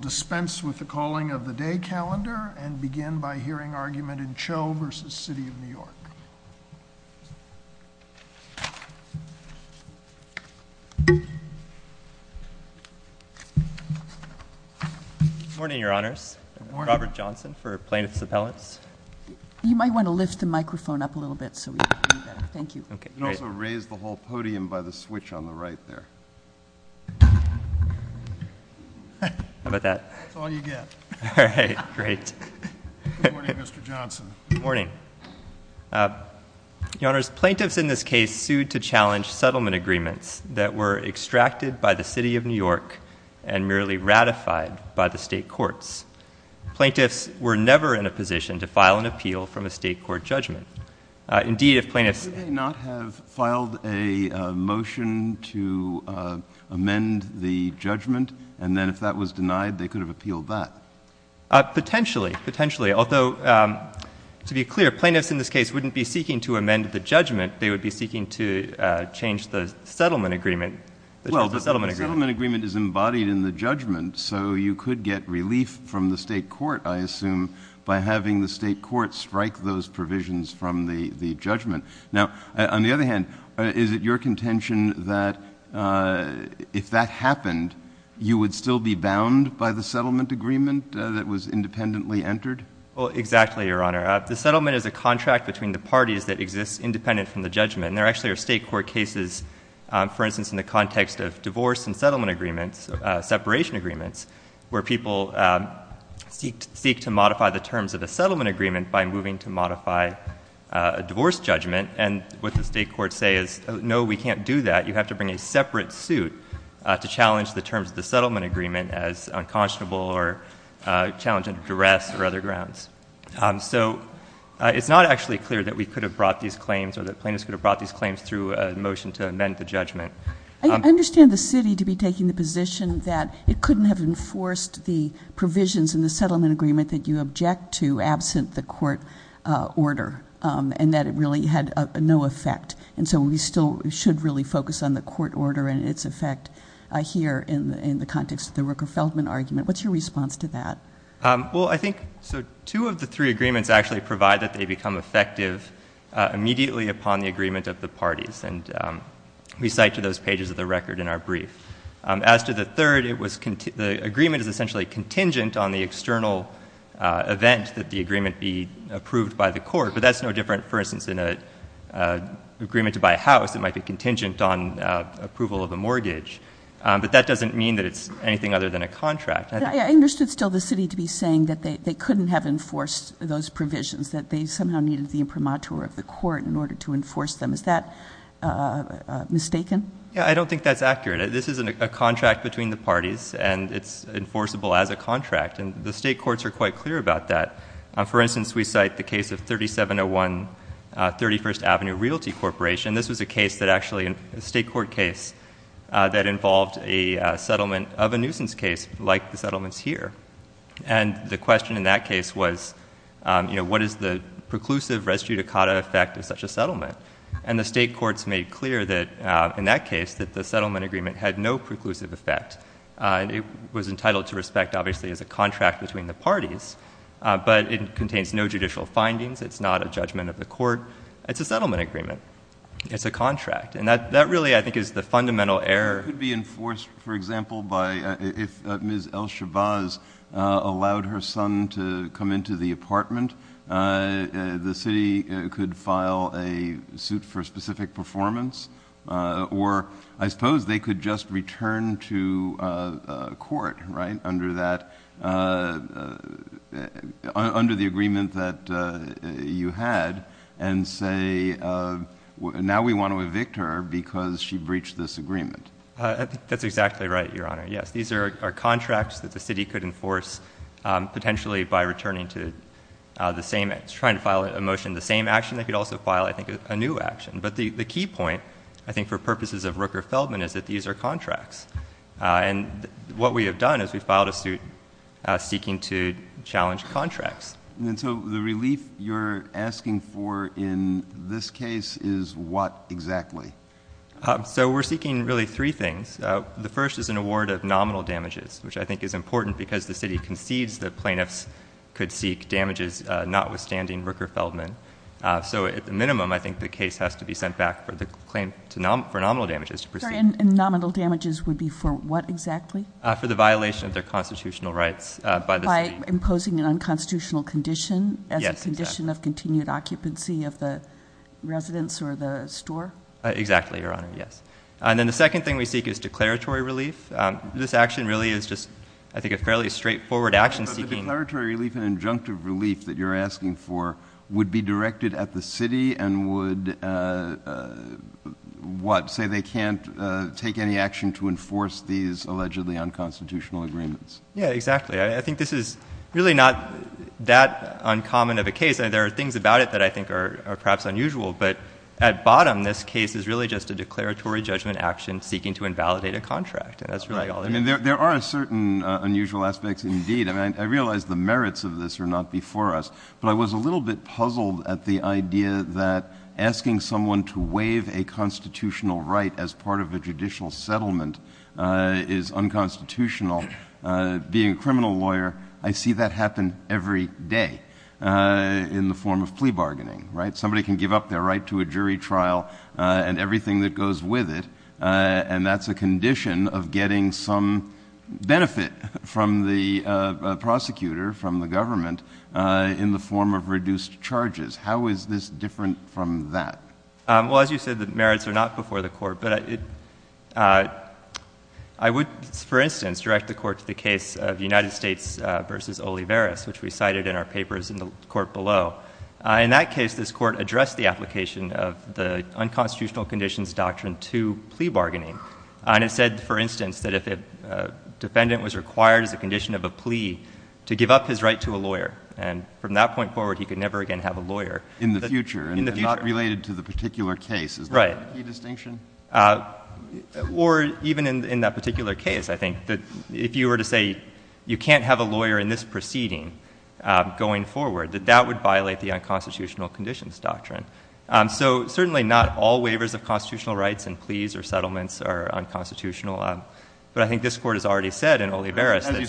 Dispense with the calling of the day calendar and begin by hearing argument in Cho v. City of New York. Morning, Your Honors. Robert Johnson for plaintiffs' appellants. You might want to lift the microphone up a little bit so we can hear you better. Thank you. You can also raise the whole podium by the microphone. That's all you get. All right, great. Good morning, Mr. Johnson. Good morning. Your Honors, plaintiffs in this case sued to challenge settlement agreements that were extracted by the City of New York and merely ratified by the state courts. Plaintiffs were never in a position to file an appeal from a state court judgment. Indeed, if plaintiffs— You may not have filed a motion to amend the judgment and then if that was denied, they could have appealed that. Potentially. Potentially. Although, to be clear, plaintiffs in this case wouldn't be seeking to amend the judgment. They would be seeking to change the settlement agreement. Well, the settlement agreement is embodied in the judgment, so you could get relief from the state court, I assume, by having the state court strike those provisions from the judgment. Now, on the other hand, is it your contention that if that happened, you would still be bound by the settlement agreement that was independently entered? Well, exactly, Your Honor. The settlement is a contract between the parties that exists independent from the judgment. There actually are state court cases, for instance, in the context of divorce and settlement agreements, separation agreements, where people seek to modify the terms of the settlement agreement by moving to modify a divorce judgment. And what the state courts say is, no, we can't do that. You have to bring a separate suit to challenge the terms of the settlement agreement as unconscionable or challenging duress or other grounds. So, it's not actually clear that we could have brought these claims or that plaintiffs could have brought these claims through a motion to amend the judgment. I understand the city to be taking the position that it couldn't have enforced the provisions in the settlement agreement that you object to absent the court order and that it really had no effect. And so, we still should really focus on the court order and its effect here in the context of the Rooker-Feldman argument. What's your response to that? Well, I think two of the three agreements actually provide that they become effective immediately upon the agreement of the parties. And we cite to those pages of the record in our brief. As to the third, the agreement is essentially contingent on the external event that the agreement be approved by the court. But that's no different, for instance, in an agreement to buy a house. It might be contingent on approval of a mortgage. But that doesn't mean that it's anything other than a contract. I understood still the city to be saying that they couldn't have enforced those provisions, that they somehow needed the imprimatur of the court in order to enforce them. Is that mistaken? Yeah, I don't think that's accurate. This is a contract between the parties and it's enforceable as a contract. And the state courts are quite clear about that. For instance, we cite the case of 3701 31st Avenue Realty Corporation. This was a case that actually a state court case that involved a settlement of a nuisance case like the settlements here. And the question in that case was, you know, what is the preclusive res judicata effect of such a settlement? And the state courts made clear that in that case that the settlement agreement had no preclusive effect. It was entitled to respect, obviously, as a contract between the parties. But it contains no judicial findings. It's not a judgment of the court. It's a settlement agreement. It's a contract. And that really, I think, is the fundamental error. It could be enforced, for example, by if Ms. El-Shabaaz allowed her son to come into the apartment, the city could file a suit for specific performance. Or I suppose they could just return to court, right, under that, under the agreement that you had and say, now we want to evict her because she breached this agreement. MR. GOLDSMITH. That's exactly right, Your Honor. Yes. These are contracts that the city could enforce potentially by returning to the same, trying to file a motion, the same action. They could also file, I think, a new action. But the key point, I think, for purposes of Rooker-Feldman is that these are contracts. And what we have done is we filed a suit seeking to challenge contracts. JUSTICE KENNEDY. And so the relief you're asking for in this case is what exactly? MR. GOLDSMITH. So we're seeking really three things. The first is an award of nominal damages, which I think is important because the city concedes that plaintiffs could seek damages notwithstanding Rooker-Feldman. So at the minimum, I think the case has to be sent back for the claim for nominal damages to proceed. JUSTICE GINSBURG. And nominal damages would be for what exactly? MR. GOLDSMITH. For the violation of their constitutional rights by the city. JUSTICE GINSBURG. By imposing an unconstitutional condition as a condition of continued occupancy of the residence or the store? MR. GOLDSMITH. Exactly, Your Honor. Yes. And then the second thing we seek is declaratory relief. This action really is just, I think, a fairly straightforward action seeking JUSTICE KENNEDY. So the declaratory relief and injunctive relief that you're asking for would be directed at the city and would, what, say they can't take any action to enforce these allegedly unconstitutional agreements? MR. GOLDSMITH. Yes, exactly. I think this is really not that uncommon of a case. There are things about it that I think are perhaps unusual. But at bottom, this case is really just a declaratory judgment action seeking to invalidate a contract. And that's really all it is. JUSTICE KENNEDY. There are certain unusual aspects indeed. I mean, I realize the merits of this are not before us, but I was a little bit puzzled at the idea that asking someone to waive a constitutional right as part of a judicial settlement is unconstitutional. Being a criminal lawyer, I see that happen every day in the form of plea bargaining, right? Somebody can give up their right to a jury trial and everything that goes with it, and that's a condition of getting some benefit from the prosecutor, from the government, in the form of reduced charges. How is this different from that? MR. GOLDSMITH. Well, as you said, the merits are not before the Court. But I would, for instance, direct the Court to the case of United States v. Olivares, which we cited in our papers in the Court below. In that case, this Court addressed the application of the unconstitutional conditions doctrine to plea bargaining. And it said, for instance, that if a defendant was required as a condition of a plea to give up his right to a lawyer, and from that point forward, he could never again have a lawyer. MR. STEINWALD. In the future, and not related to the particular case. Is that a key distinction? MR. GOLDSMITH. Right. Or even in that particular case, I think, that if you were to say, you can't have a lawyer in this proceeding going forward, that that would violate the unconstitutional conditions doctrine. So certainly not all waivers of constitutional rights and pleas or settlements are unconstitutional. But I think this Court has already said in Olivares MR. STEINWALD. As you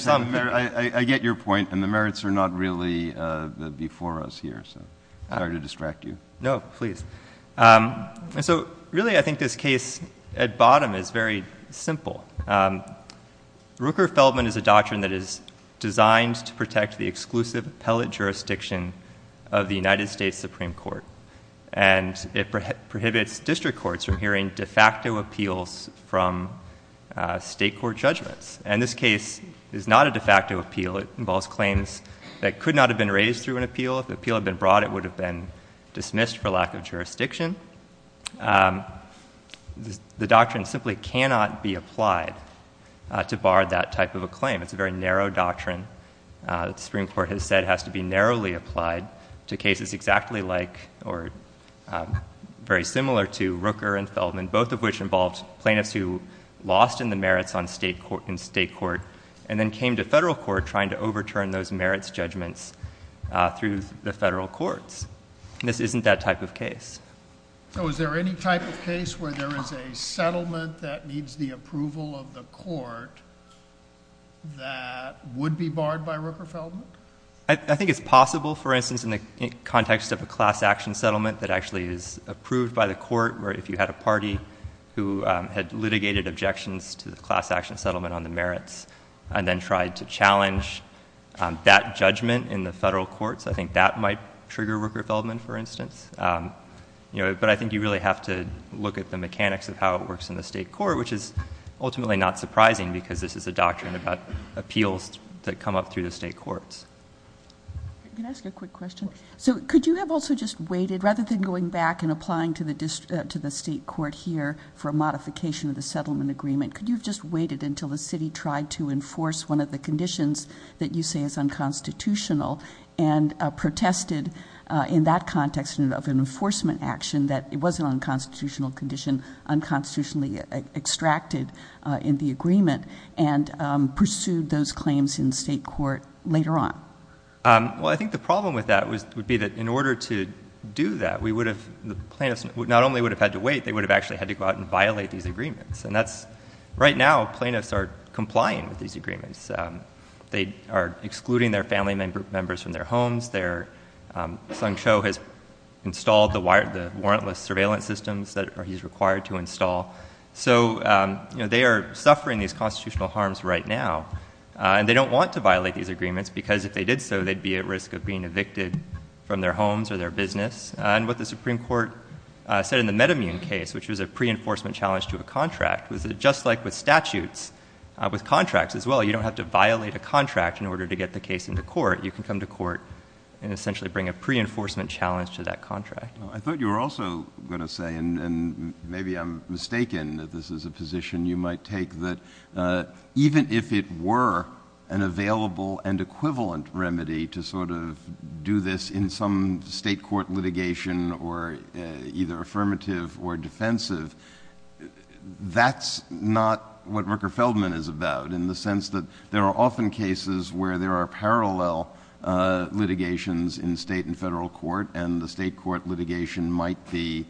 said, I get your point. And the merits are not really before us here. MR. GOLDSMITH. No, please. And so really, I think this case at bottom is very simple. Rooker-Feldman is a doctrine that is designed to protect the exclusive appellate jurisdiction of the United States Supreme Court. And it prohibits district courts from hearing de facto appeals from state court judgments. And this case is not a de facto appeal. It involves claims that could not have been raised through an appeal. If the appeal had been brought, it would have been dismissed for lack of jurisdiction. The doctrine simply cannot be applied to bar that type of a claim. It's a very narrow doctrine that the Supreme Court has applied to cases exactly like or very similar to Rooker and Feldman, both of which involved plaintiffs who lost in the merits in state court and then came to federal court trying to overturn those merits judgments through the federal courts. And this isn't that type of case. MR. STEINWALD. So is there any type of case where there is a settlement that needs the approval of the court that would be barred by Rooker-Feldman? MR. GARRETT. I think it's possible, for instance, in the context of a class action settlement that actually is approved by the court where if you had a party who had litigated objections to the class action settlement on the merits and then tried to challenge that judgment in the federal courts, I think that might trigger Rooker-Feldman, for instance. But I think you really have to look at the mechanics of how it works in the state court, which is ultimately not surprising because this is a doctrine about appeals that come up through the state courts. MS. NISBET. Can I ask a quick question? So could you have also just waited, rather than going back and applying to the state court here for a modification of the settlement agreement, could you have just waited until the city tried to enforce one of the conditions that you say is unconstitutional and protested in that context of an enforcement action that it was an unconstitutional condition, unconstitutionally extracted in the agreement, and pursued those claims in the state court later on? MR. GARRETT. Well, I think the problem with that would be that in order to do that, we would have, the plaintiffs not only would have had to wait, they would have actually had to go out and violate these agreements. And that's, right now, plaintiffs are complying with these agreements. They are excluding their family members from their homes. Their son, Cho, has installed the warrantless surveillance systems that he's required to install. So they are suffering these constitutional harms right now. And they don't want to violate these agreements, because if they did so, they'd be at risk of being evicted from their homes or their business. And what the Supreme Court said in the MedImmune case, which was a pre-enforcement challenge to a contract, was that just like with statutes, with contracts as well, you don't have to violate a contract in order to get the case into court. You can come to court and essentially bring a pre-enforcement challenge to that contract. I thought you were also going to say, and maybe I'm mistaken that this is a position you might take, that even if it were an available and equivalent remedy to sort of do this in some state court litigation or either affirmative or defensive, that's not what Rooker-Feldman is about in the sense that there are often cases where there are parallel litigations in state and federal court and the state court litigation might be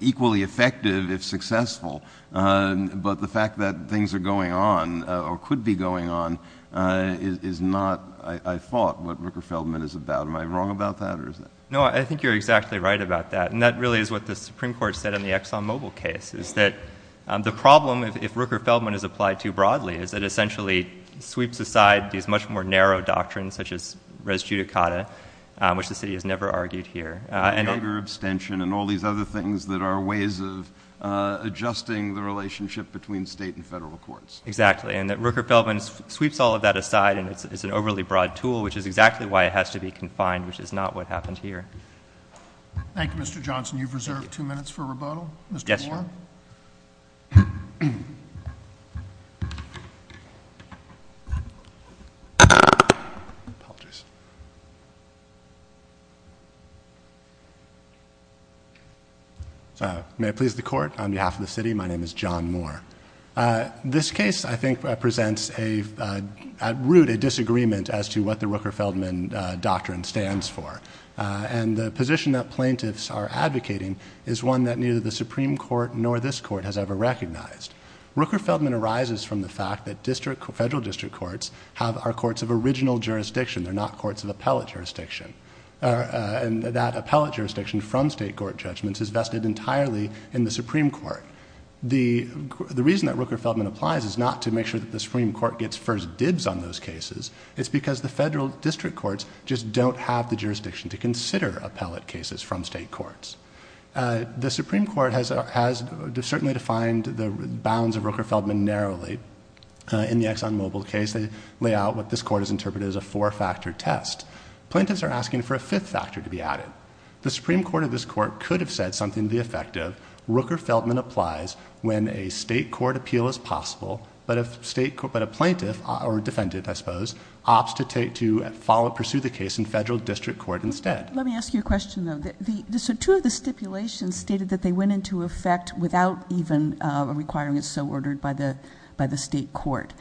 equally effective if successful. But the fact that things are going on or could be going on is not, I thought, what Rooker-Feldman is about. Am I wrong about that, or is that? No, I think you're exactly right about that. And that really is what the Supreme Court said in the ExxonMobil case, is that the problem, if Rooker-Feldman is applied too broadly, is that it essentially sweeps aside these much more narrow doctrines, such as res judicata, which the city has never argued here. And labor abstention and all these other things that are ways of adjusting the relationship between state and federal courts. Exactly. And that Rooker-Feldman sweeps all of that aside and it's an overly broad tool, which is exactly why it has to be confined, which is not what happened here. Thank you, Mr. Johnson. You've reserved two minutes for rebuttal. Mr. Warren. May I please the court? On behalf of the city, my name is John Moore. This case, I think, represents at root a disagreement as to what the Rooker-Feldman doctrine stands for. And the position that plaintiffs are advocating is one that neither the Supreme Court nor this court has ever recognized. Rooker-Feldman arises from the fact that federal district courts have our courts of original jurisdiction. They're not courts of appellate jurisdiction, and that appellate jurisdiction from state court judgments is vested entirely in the Supreme Court. The reason that Rooker-Feldman applies is not to make sure that the Supreme Court gets first dibs on those cases. It's because the federal district courts just don't have the jurisdiction to consider appellate cases from state courts. The Supreme Court has certainly defined the bounds of Rooker-Feldman narrowly. In the ExxonMobil case, they lay out what this court has interpreted as a four-factor test. Plaintiffs are asking for a fifth factor to be added. The Supreme Court or this court could have said something to the effect of, Rooker-Feldman applies when a state court appeal is possible, but a plaintiff, or defendant, I suppose, opts to pursue the case in federal district court instead. Let me ask you a question, though. Two of the stipulations stated that they went into effect without even requiring it so ordered by the state court.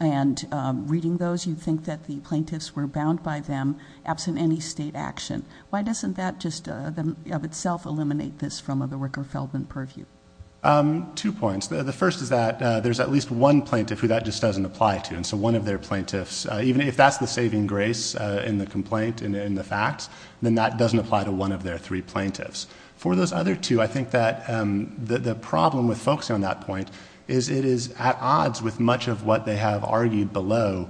And reading those, you think that the plaintiffs were bound by them absent any state action. Why doesn't that just of itself eliminate this from the Rooker-Feldman purview? Two points. The first is that there's at least one plaintiff who that just doesn't apply to, and so one of their plaintiffs, even if that's the saving grace in the complaint and in the facts, then that doesn't apply to one of their three plaintiffs. For those other two, I think that the problem with focusing on that point is it is at odds with much of what they have argued below,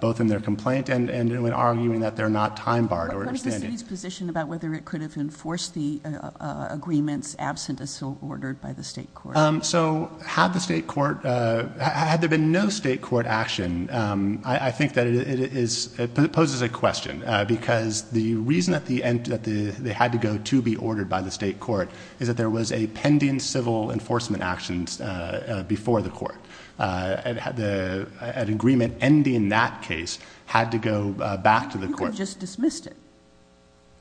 both in their complaint and in arguing that they're not time-barred or understanding. What is the city's position about whether it could have enforced the agreements absent as so ordered by the state court? So had the state court, had there been no state court action, I think that it poses a question, because the reason that they had to go to be ordered by the state court is that there was a pending civil enforcement actions before the court. An agreement ending that case had to go back to the court. You could have just dismissed it.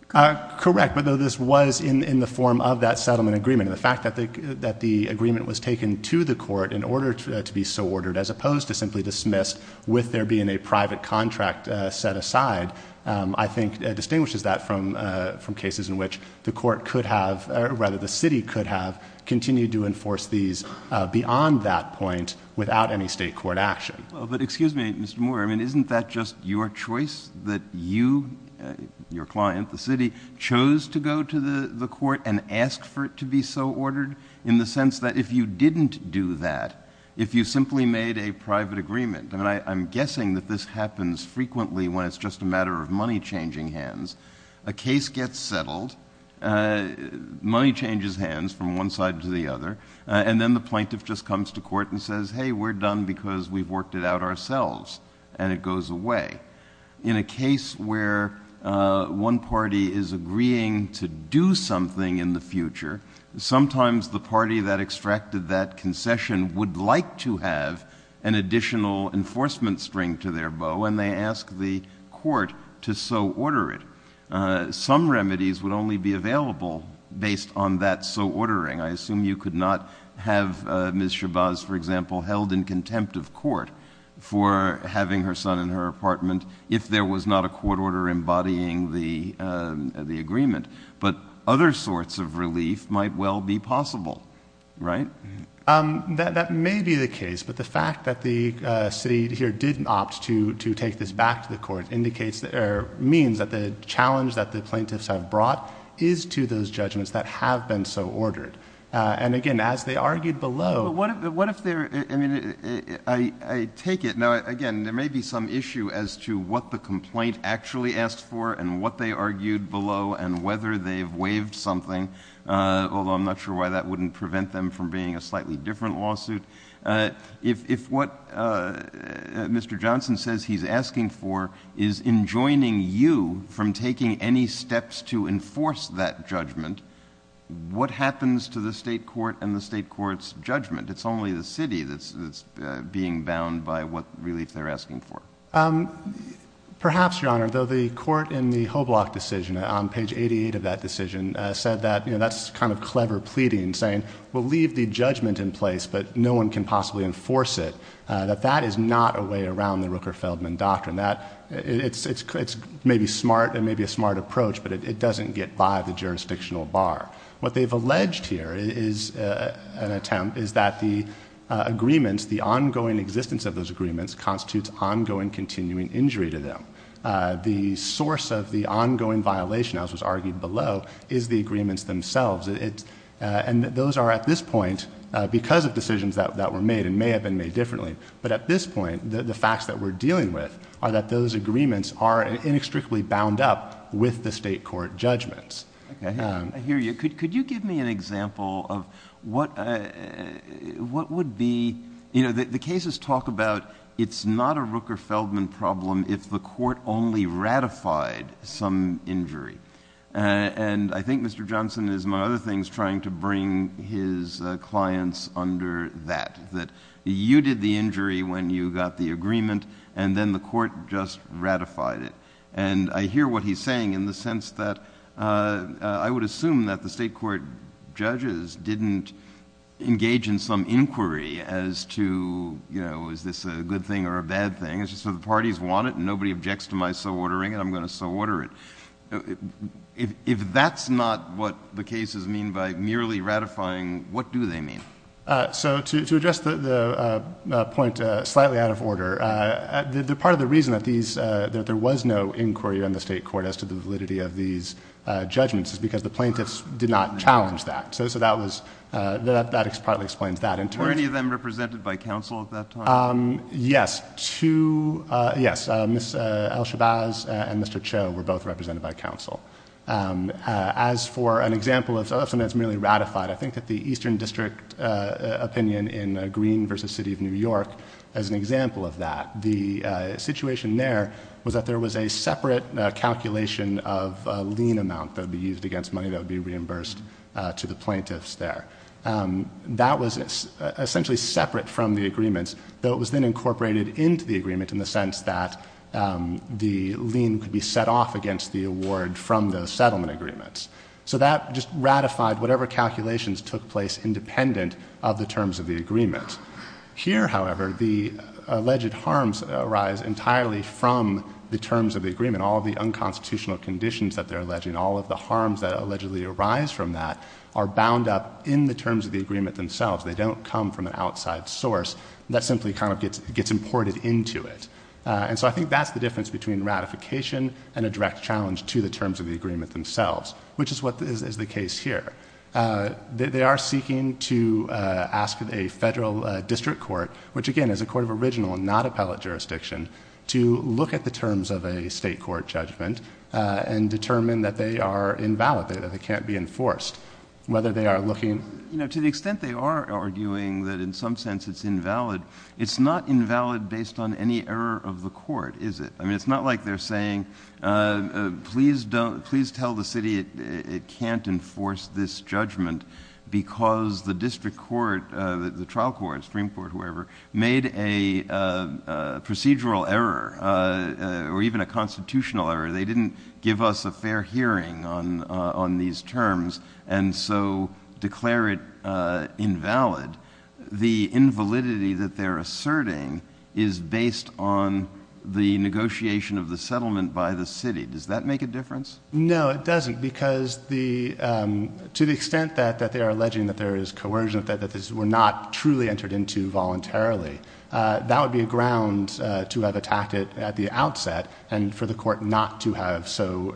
Correct, but this was in the form of that settlement agreement. And the fact that the agreement was taken to the court in order to be so ordered, as opposed to simply dismissed with there being a private contract set aside, I think distinguishes that from cases in which the court could have, or rather the city could have, continued to enforce these beyond that point without any state court action. Well, but excuse me, Mr. Moore, I mean, isn't that just your choice that you, your client, the city, chose to go to the court and ask for it to be so ordered? In the sense that if you didn't do that, if you simply made a private agreement, and I'm guessing that this happens frequently when it's just a matter of money changing hands, a case gets settled, money changes hands from one side to the other, and then the plaintiff just comes to court and says, hey, we're done because we've worked it out ourselves, and it goes away. In a case where one party is agreeing to do something in the future, sometimes the party that extracted that concession would like to have an additional enforcement string to their bow, and they ask the court to so order it. Some remedies would only be available based on that so ordering. I assume you could not have Ms. Shabazz, for example, held in contempt of court for having her son in her apartment if there was not a court order embodying the agreement, but other sorts of relief might well be possible, right? That may be the case, but the fact that the city here didn't opt to take this back to the court indicates, or means, that the challenge that the plaintiffs have brought is to those judgments that have been so ordered. And again, as they argued below... What if they're, I mean, I take it, now again, there may be some issue as to what the complaint actually asked for, and what they argued below, and whether they've waived something, although I'm not sure why that wouldn't prevent them from being a slightly different lawsuit. If what Mr. Johnson says he's asking for is enjoining you from taking any steps to enforce that judgment, what happens to the state court and the state court's judgment? It's only the city that's being bound by what relief they're asking for. Perhaps, Your Honor, though the court in the Hoblock decision, on page 88 of that decision, said that, you know, that's kind of clever pleading, saying, we'll leave the judgment in place, but no one can possibly enforce it, that that is not a way around the Rooker-Feldman Doctrine. It's maybe smart, it may be a smart approach, but it doesn't get by the jurisdictional bar. What they've alleged here is an attempt, is that the agreements, the ongoing existence of those agreements constitutes ongoing continuing injury to them. The source of the ongoing violation, as was argued below, is the agreements themselves, and those are at this point, because of decisions that were made, and may have been made differently, but at this point, the facts that we're dealing with are that those agreements are inextricably bound up with the state court judgments. I hear you. Could you give me an example of what would be, you know, the cases talk about it's not a Rooker-Feldman problem if the court only ratified some injury, and I think Mr. Johnson is, among other things, trying to bring his clients under that, that you did the injury when you got the agreement, and then the court just ratified it, and I hear what he's saying in the sense that I would assume that the state court judges didn't engage in some inquiry as to, you know, is this a good thing or a bad thing? It's just that the parties want it, and nobody objects to my so-ordering, and I'm going to so-order it. If that's not what the cases mean by merely ratifying, what do they mean? So to address the point slightly out of order, part of the reason that there was no inquiry on the state court as to the validity of these judgments is because the plaintiffs did not have the authority to do so. And I think the case partly explains that. Were any of them represented by counsel at that time? Yes. Two, yes. Ms. El-Shabazz and Mr. Cho were both represented by counsel. As for an example of something that's merely ratified, I think that the Eastern District opinion in Green v. City of New York is an example of that. The situation there was that there was a separate calculation of a lien amount that would be used against money that would be reimbursed to the plaintiffs there. That was essentially separate from the agreements, though it was then incorporated into the agreement in the sense that the lien could be set off against the award from those settlement agreements. So that just ratified whatever calculations took place independent of the terms of the agreement. Here, however, the alleged harms arise entirely from the terms of the agreement, all of the harms that arise from that are bound up in the terms of the agreement themselves. They don't come from an outside source. That simply kind of gets imported into it. And so I think that's the difference between ratification and a direct challenge to the terms of the agreement themselves, which is what is the case here. They are seeking to ask a federal district court, which again is a court of original and not appellate jurisdiction, to look at the terms of a state court judgment and determine that they are invalid, that they can't be enforced, whether they are looking... You know, to the extent they are arguing that in some sense it's invalid, it's not invalid based on any error of the court, is it? I mean, it's not like they're saying, please tell the city it can't enforce this judgment because the district court, the trial court, Supreme Court, whoever, made a procedural error or even a constitutional error. They didn't give us a fair hearing on these terms and so declare it invalid. The invalidity that they're asserting is based on the negotiation of the settlement by the city. Does that make a difference? No, it doesn't, because to the extent that they are alleging that there is coercion, that this were not truly entered into voluntarily, that would be a ground to have attacked it at the outset and for the court not to have so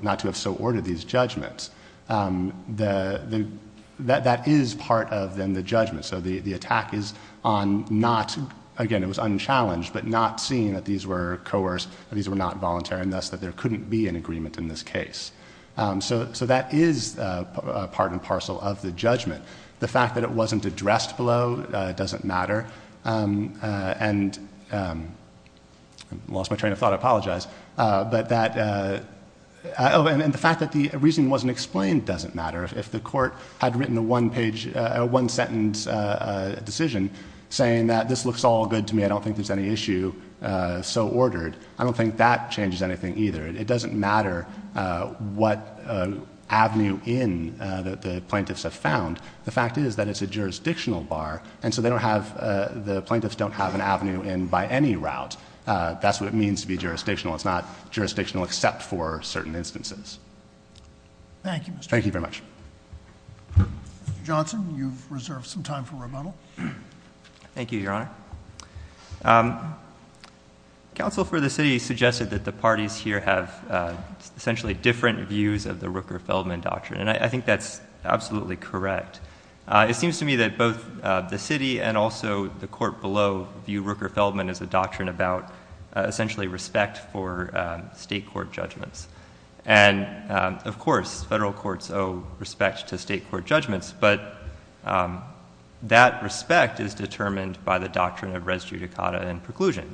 ordered these judgments. That is part of, then, the judgment. So the attack is on not... Again, it was unchallenged, but not seeing that these were coerced, that these were not voluntary, and thus that there couldn't be an agreement in this case. So that is part and parcel of the judgment. The fact that it wasn't addressed below doesn't matter. I lost my train of thought, I apologize. And the fact that the reasoning wasn't explained doesn't matter. If the court had written a one-sentence decision saying that this looks all good to me, I don't think there's any issue so ordered, I don't think that changes anything either. It doesn't matter what avenue in the plaintiffs have found. The fact is that it's a jurisdictional bar, and so they don't have... the plaintiffs don't have an avenue in by any route. That's what it means to be jurisdictional. It's not jurisdictional except for certain instances. Thank you, Mr.... Thank you very much. Mr. Johnson, you've reserved some time for rebuttal. Thank you, Your Honor. Counsel for the city suggested that the parties here have essentially different views of the Rooker-Feldman doctrine, and I think that's absolutely correct. It seems to me that both the city and also the court below view Rooker-Feldman as a doctrine about essentially respect for state court judgments. And of course, federal courts owe respect to state court judgments, but that respect is determined by the doctrine of res judicata and preclusion.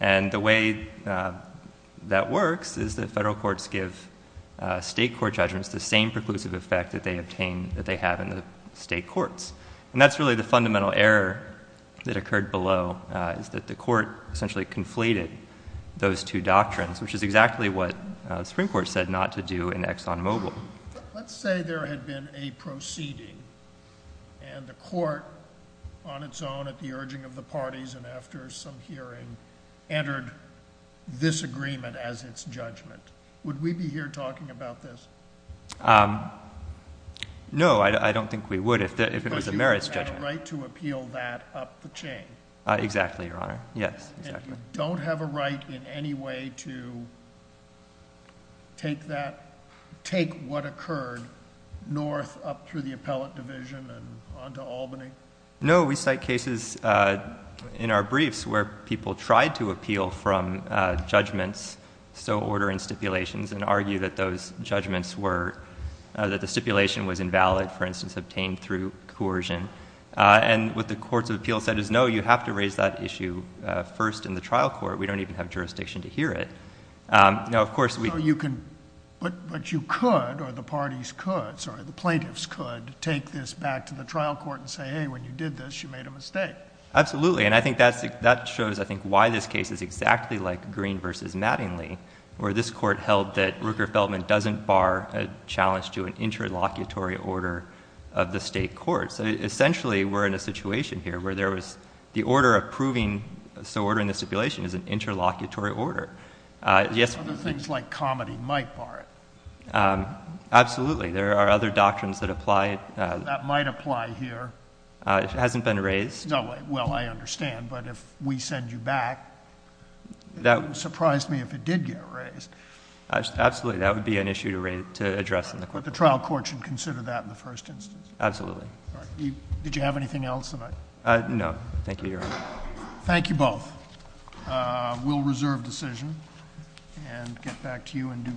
And the way that works is that federal courts give state court judgments the same preclusive effect that they have in the state courts. And that's really the fundamental error that occurred below, is that the court essentially conflated those two doctrines, which is exactly what the Supreme Court said not to do in Exxon Mobil. Let's say there had been a proceeding and the court on its own at the urging of the Supreme Court, after some hearing, entered this agreement as its judgment. Would we be here talking about this? No, I don't think we would if it was a merits judgment. But you have a right to appeal that up the chain. Exactly, Your Honor. Yes, exactly. And you don't have a right in any way to take that, take what occurred north up through the appellate division and on to Albany? No, we cite cases in our briefs where people tried to appeal from judgments, so order and stipulations, and argue that those judgments were, that the stipulation was invalid, for instance, obtained through coercion. And what the courts of appeal said is, no, you have to raise that issue first in the trial court. We don't even have jurisdiction to hear it. Now, of course, we— So you can, but you could, or the parties could, sorry, the plaintiffs could take this back to the trial court and say, hey, when you did this, you made a mistake. Absolutely. And I think that shows, I think, why this case is exactly like Green v. Mattingly, where this court held that Rooker-Feldman doesn't bar a challenge to an interlocutory order of the state court. So essentially, we're in a situation here where there was the order of proving, so ordering the stipulation is an interlocutory order. Other things like comedy might bar it. Absolutely. There are other doctrines that apply. That might apply here. If it hasn't been raised. No. Well, I understand. But if we send you back, it would surprise me if it did get raised. Absolutely. That would be an issue to address in the court. But the trial court should consider that in the first instance. Absolutely. All right. Did you have anything else? No. Thank you, Your Honor. Thank you both. We'll reserve decision and get back to you in due course.